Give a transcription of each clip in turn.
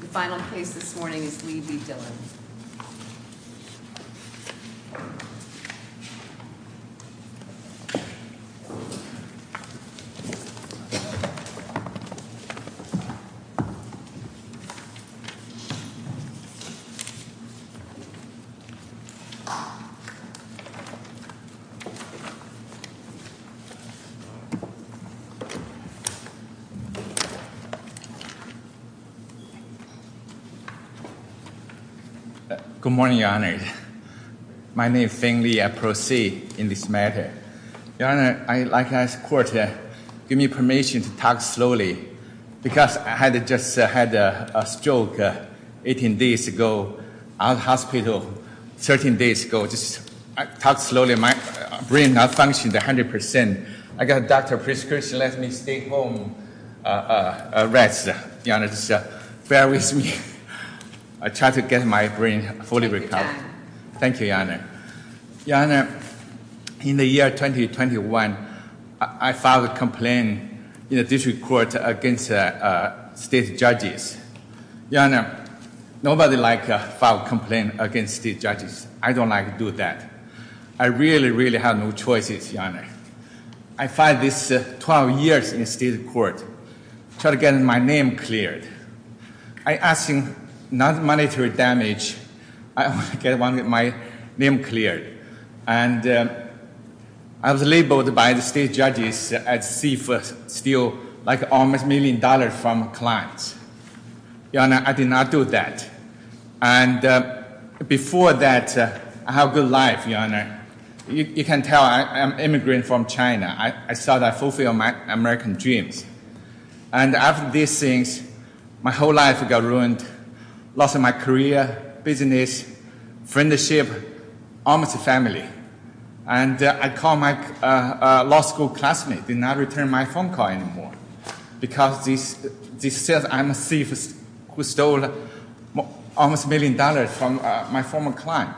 The final case this morning is Lee v. Dillon. Good morning, Your Honor. My name is Feng Li. I proceed in this matter. Your Honor, I'd like to ask the court to give me permission to talk slowly, because I just had a stroke 18 days ago at the hospital, 13 days ago. Just talk slowly. My brain is not functioning 100%. I got a doctor's prescription to let me stay home and rest. Your Honor, just bear with me. I try to get my brain fully recovered. Thank you, Your Honor. Your Honor, in the year 2021, I filed a complaint in the district court against state judges. Your Honor, nobody likes to file a complaint against state judges. I don't like to do that. Your Honor, I filed this 12 years in the state court, trying to get my name cleared. I asked for non-monetary damage. I wanted to get my name cleared. And I was labeled by the state judges as thief, stealing like almost a million dollars from clients. Your Honor, I did not do that. And before that, I had a good life, Your Honor. You can tell I'm an immigrant from China. I thought I fulfilled my American dreams. And after these things, my whole life got ruined. Lost my career, business, friendship, almost family. And I called my law school classmate, did not return my phone call anymore. Because this says I'm a thief who stole almost a million dollars from my former client.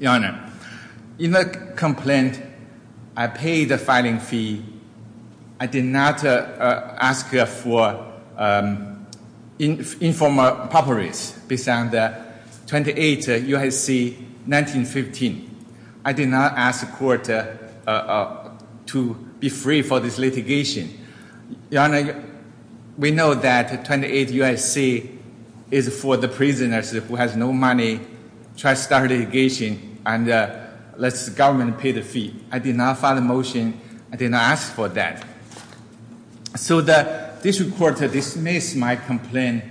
Your Honor, in the complaint, I paid the filing fee. I did not ask for informal properties. Based on the 28 UIC 1915. I did not ask the court to be free for this litigation. Your Honor, we know that 28 UIC is for the prisoners who have no money. Try to start a litigation and let the government pay the fee. I did not file a motion. I did not ask for that. So the district court dismissed my complaint.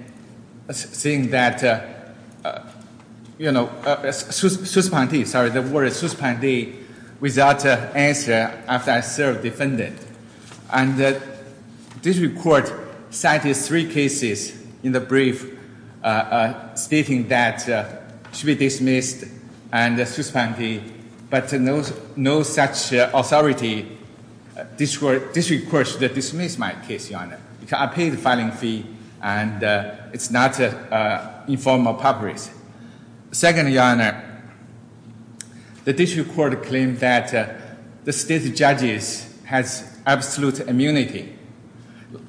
Saying that, you know, suspending, sorry, the word suspending without answer after I served defendant. And the district court cited three cases in the brief stating that it should be dismissed and suspended. But no such authority, district court dismissed my case, Your Honor. Because I paid the filing fee and it's not informal properties. Second, Your Honor, the district court claimed that the state judges has absolute immunity.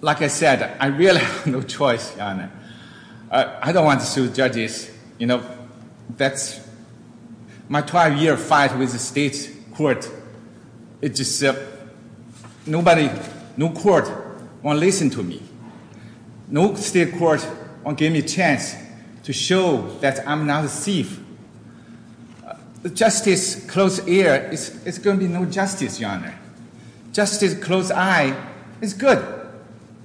Like I said, I really have no choice, Your Honor. I don't want to sue judges. You know, that's my 12-year fight with the state court. It just, nobody, no court won't listen to me. No state court won't give me a chance to show that I'm not a thief. The justice closed ear is going to be no justice, Your Honor. Justice closed eye is good.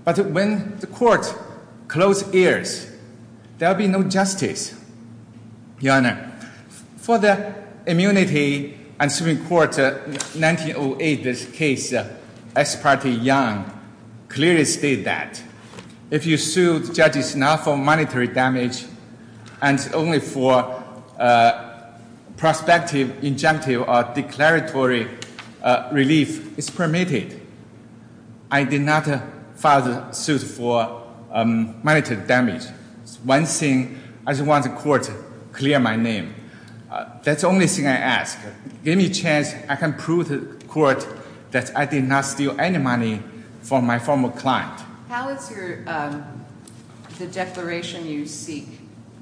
But when the court closed ears, there'll be no justice, Your Honor. For the immunity and Supreme Court 1908, this case, S. Party Young clearly stated that. If you sued judges not for monetary damage and only for prospective, injunctive or declaratory relief is permitted. I did not file the suit for monetary damage. One thing, I just want the court to clear my name. That's the only thing I ask. Give me a chance I can prove to the court that I did not steal any money from my former client. How is your, the declaration you seek,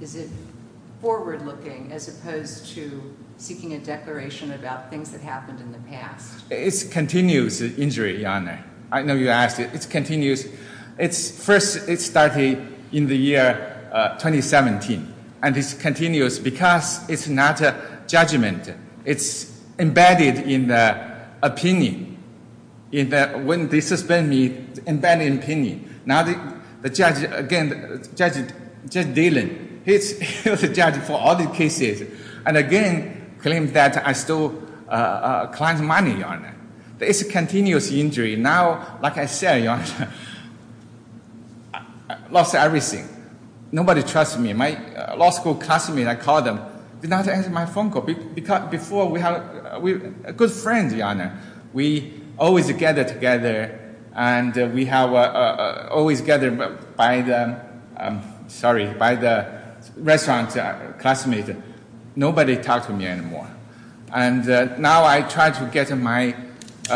is it forward looking as opposed to seeking a declaration about things that happened in the past? It's continuous injury, Your Honor. I know you asked it. It's continuous. It's first, it started in the year 2017. And it's continuous because it's not a judgment. It's embedded in the opinion. When they suspended me, embedded in opinion. Now the judge, again, Judge Dillon, he's the judge for all the cases. And again, claims that I stole client's money, Your Honor. It's a continuous injury. Now, like I said, Your Honor, I lost everything. Nobody trusts me. My law school classmate, I called them, did not answer my phone call. Before, we were good friends, Your Honor. We always gathered together, and we have always gathered by the, sorry, by the restaurant classmate. Nobody talked to me anymore. And now I try to get my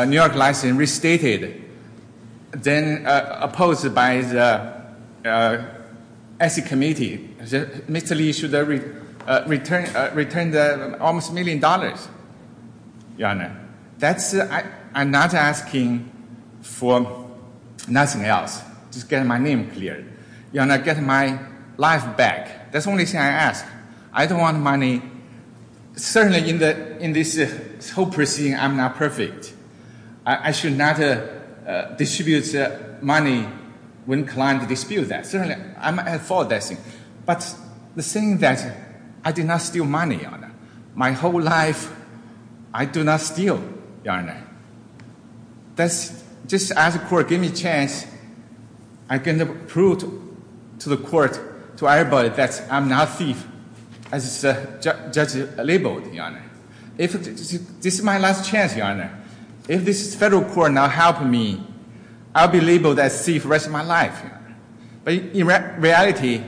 New York license restated. Then opposed by the SEC committee, Mr. Lee should return almost a million dollars. Your Honor, that's, I'm not asking for nothing else. Just get my name cleared. Your Honor, get my life back. That's the only thing I ask. I don't want money. Certainly in this whole proceeding, I'm not perfect. I should not distribute money when clients dispute that. Certainly, I'm for that thing. But the thing that I did not steal money, Your Honor. My whole life, I do not steal, Your Honor. That's, just ask the court, give me a chance. I can prove to the court, to everybody, that I'm not a thief, as the judge labeled, Your Honor. This is my last chance, Your Honor. If this federal court not help me, I'll be labeled a thief the rest of my life. But in reality,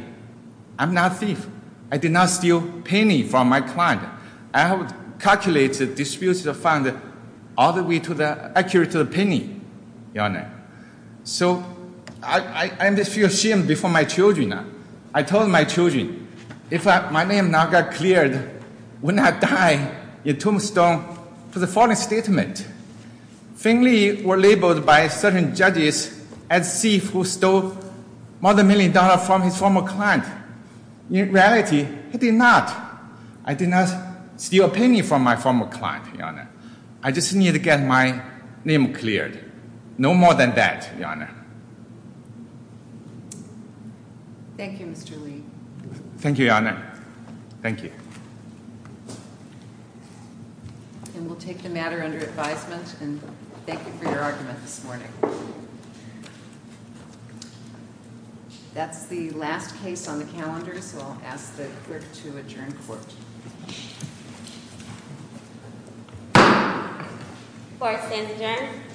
I'm not a thief. I did not steal a penny from my client. I have calculated disputes of funds all the way to the, accurate to the penny, Your Honor. So, I feel ashamed before my children. I told my children, if my name now got cleared, wouldn't I die in a tombstone for the false statement? Finley were labeled by certain judges as thieves who stole more than a million dollars from his former client. In reality, I did not. I did not steal a penny from my former client, Your Honor. I just needed to get my name cleared. No more than that, Your Honor. Thank you, Mr. Li. Thank you, Your Honor. Thank you. And we'll take the matter under advisement, and thank you for your argument this morning. That's the last case on the calendar, so I'll ask the clerk to adjourn court. Court stands adjourned.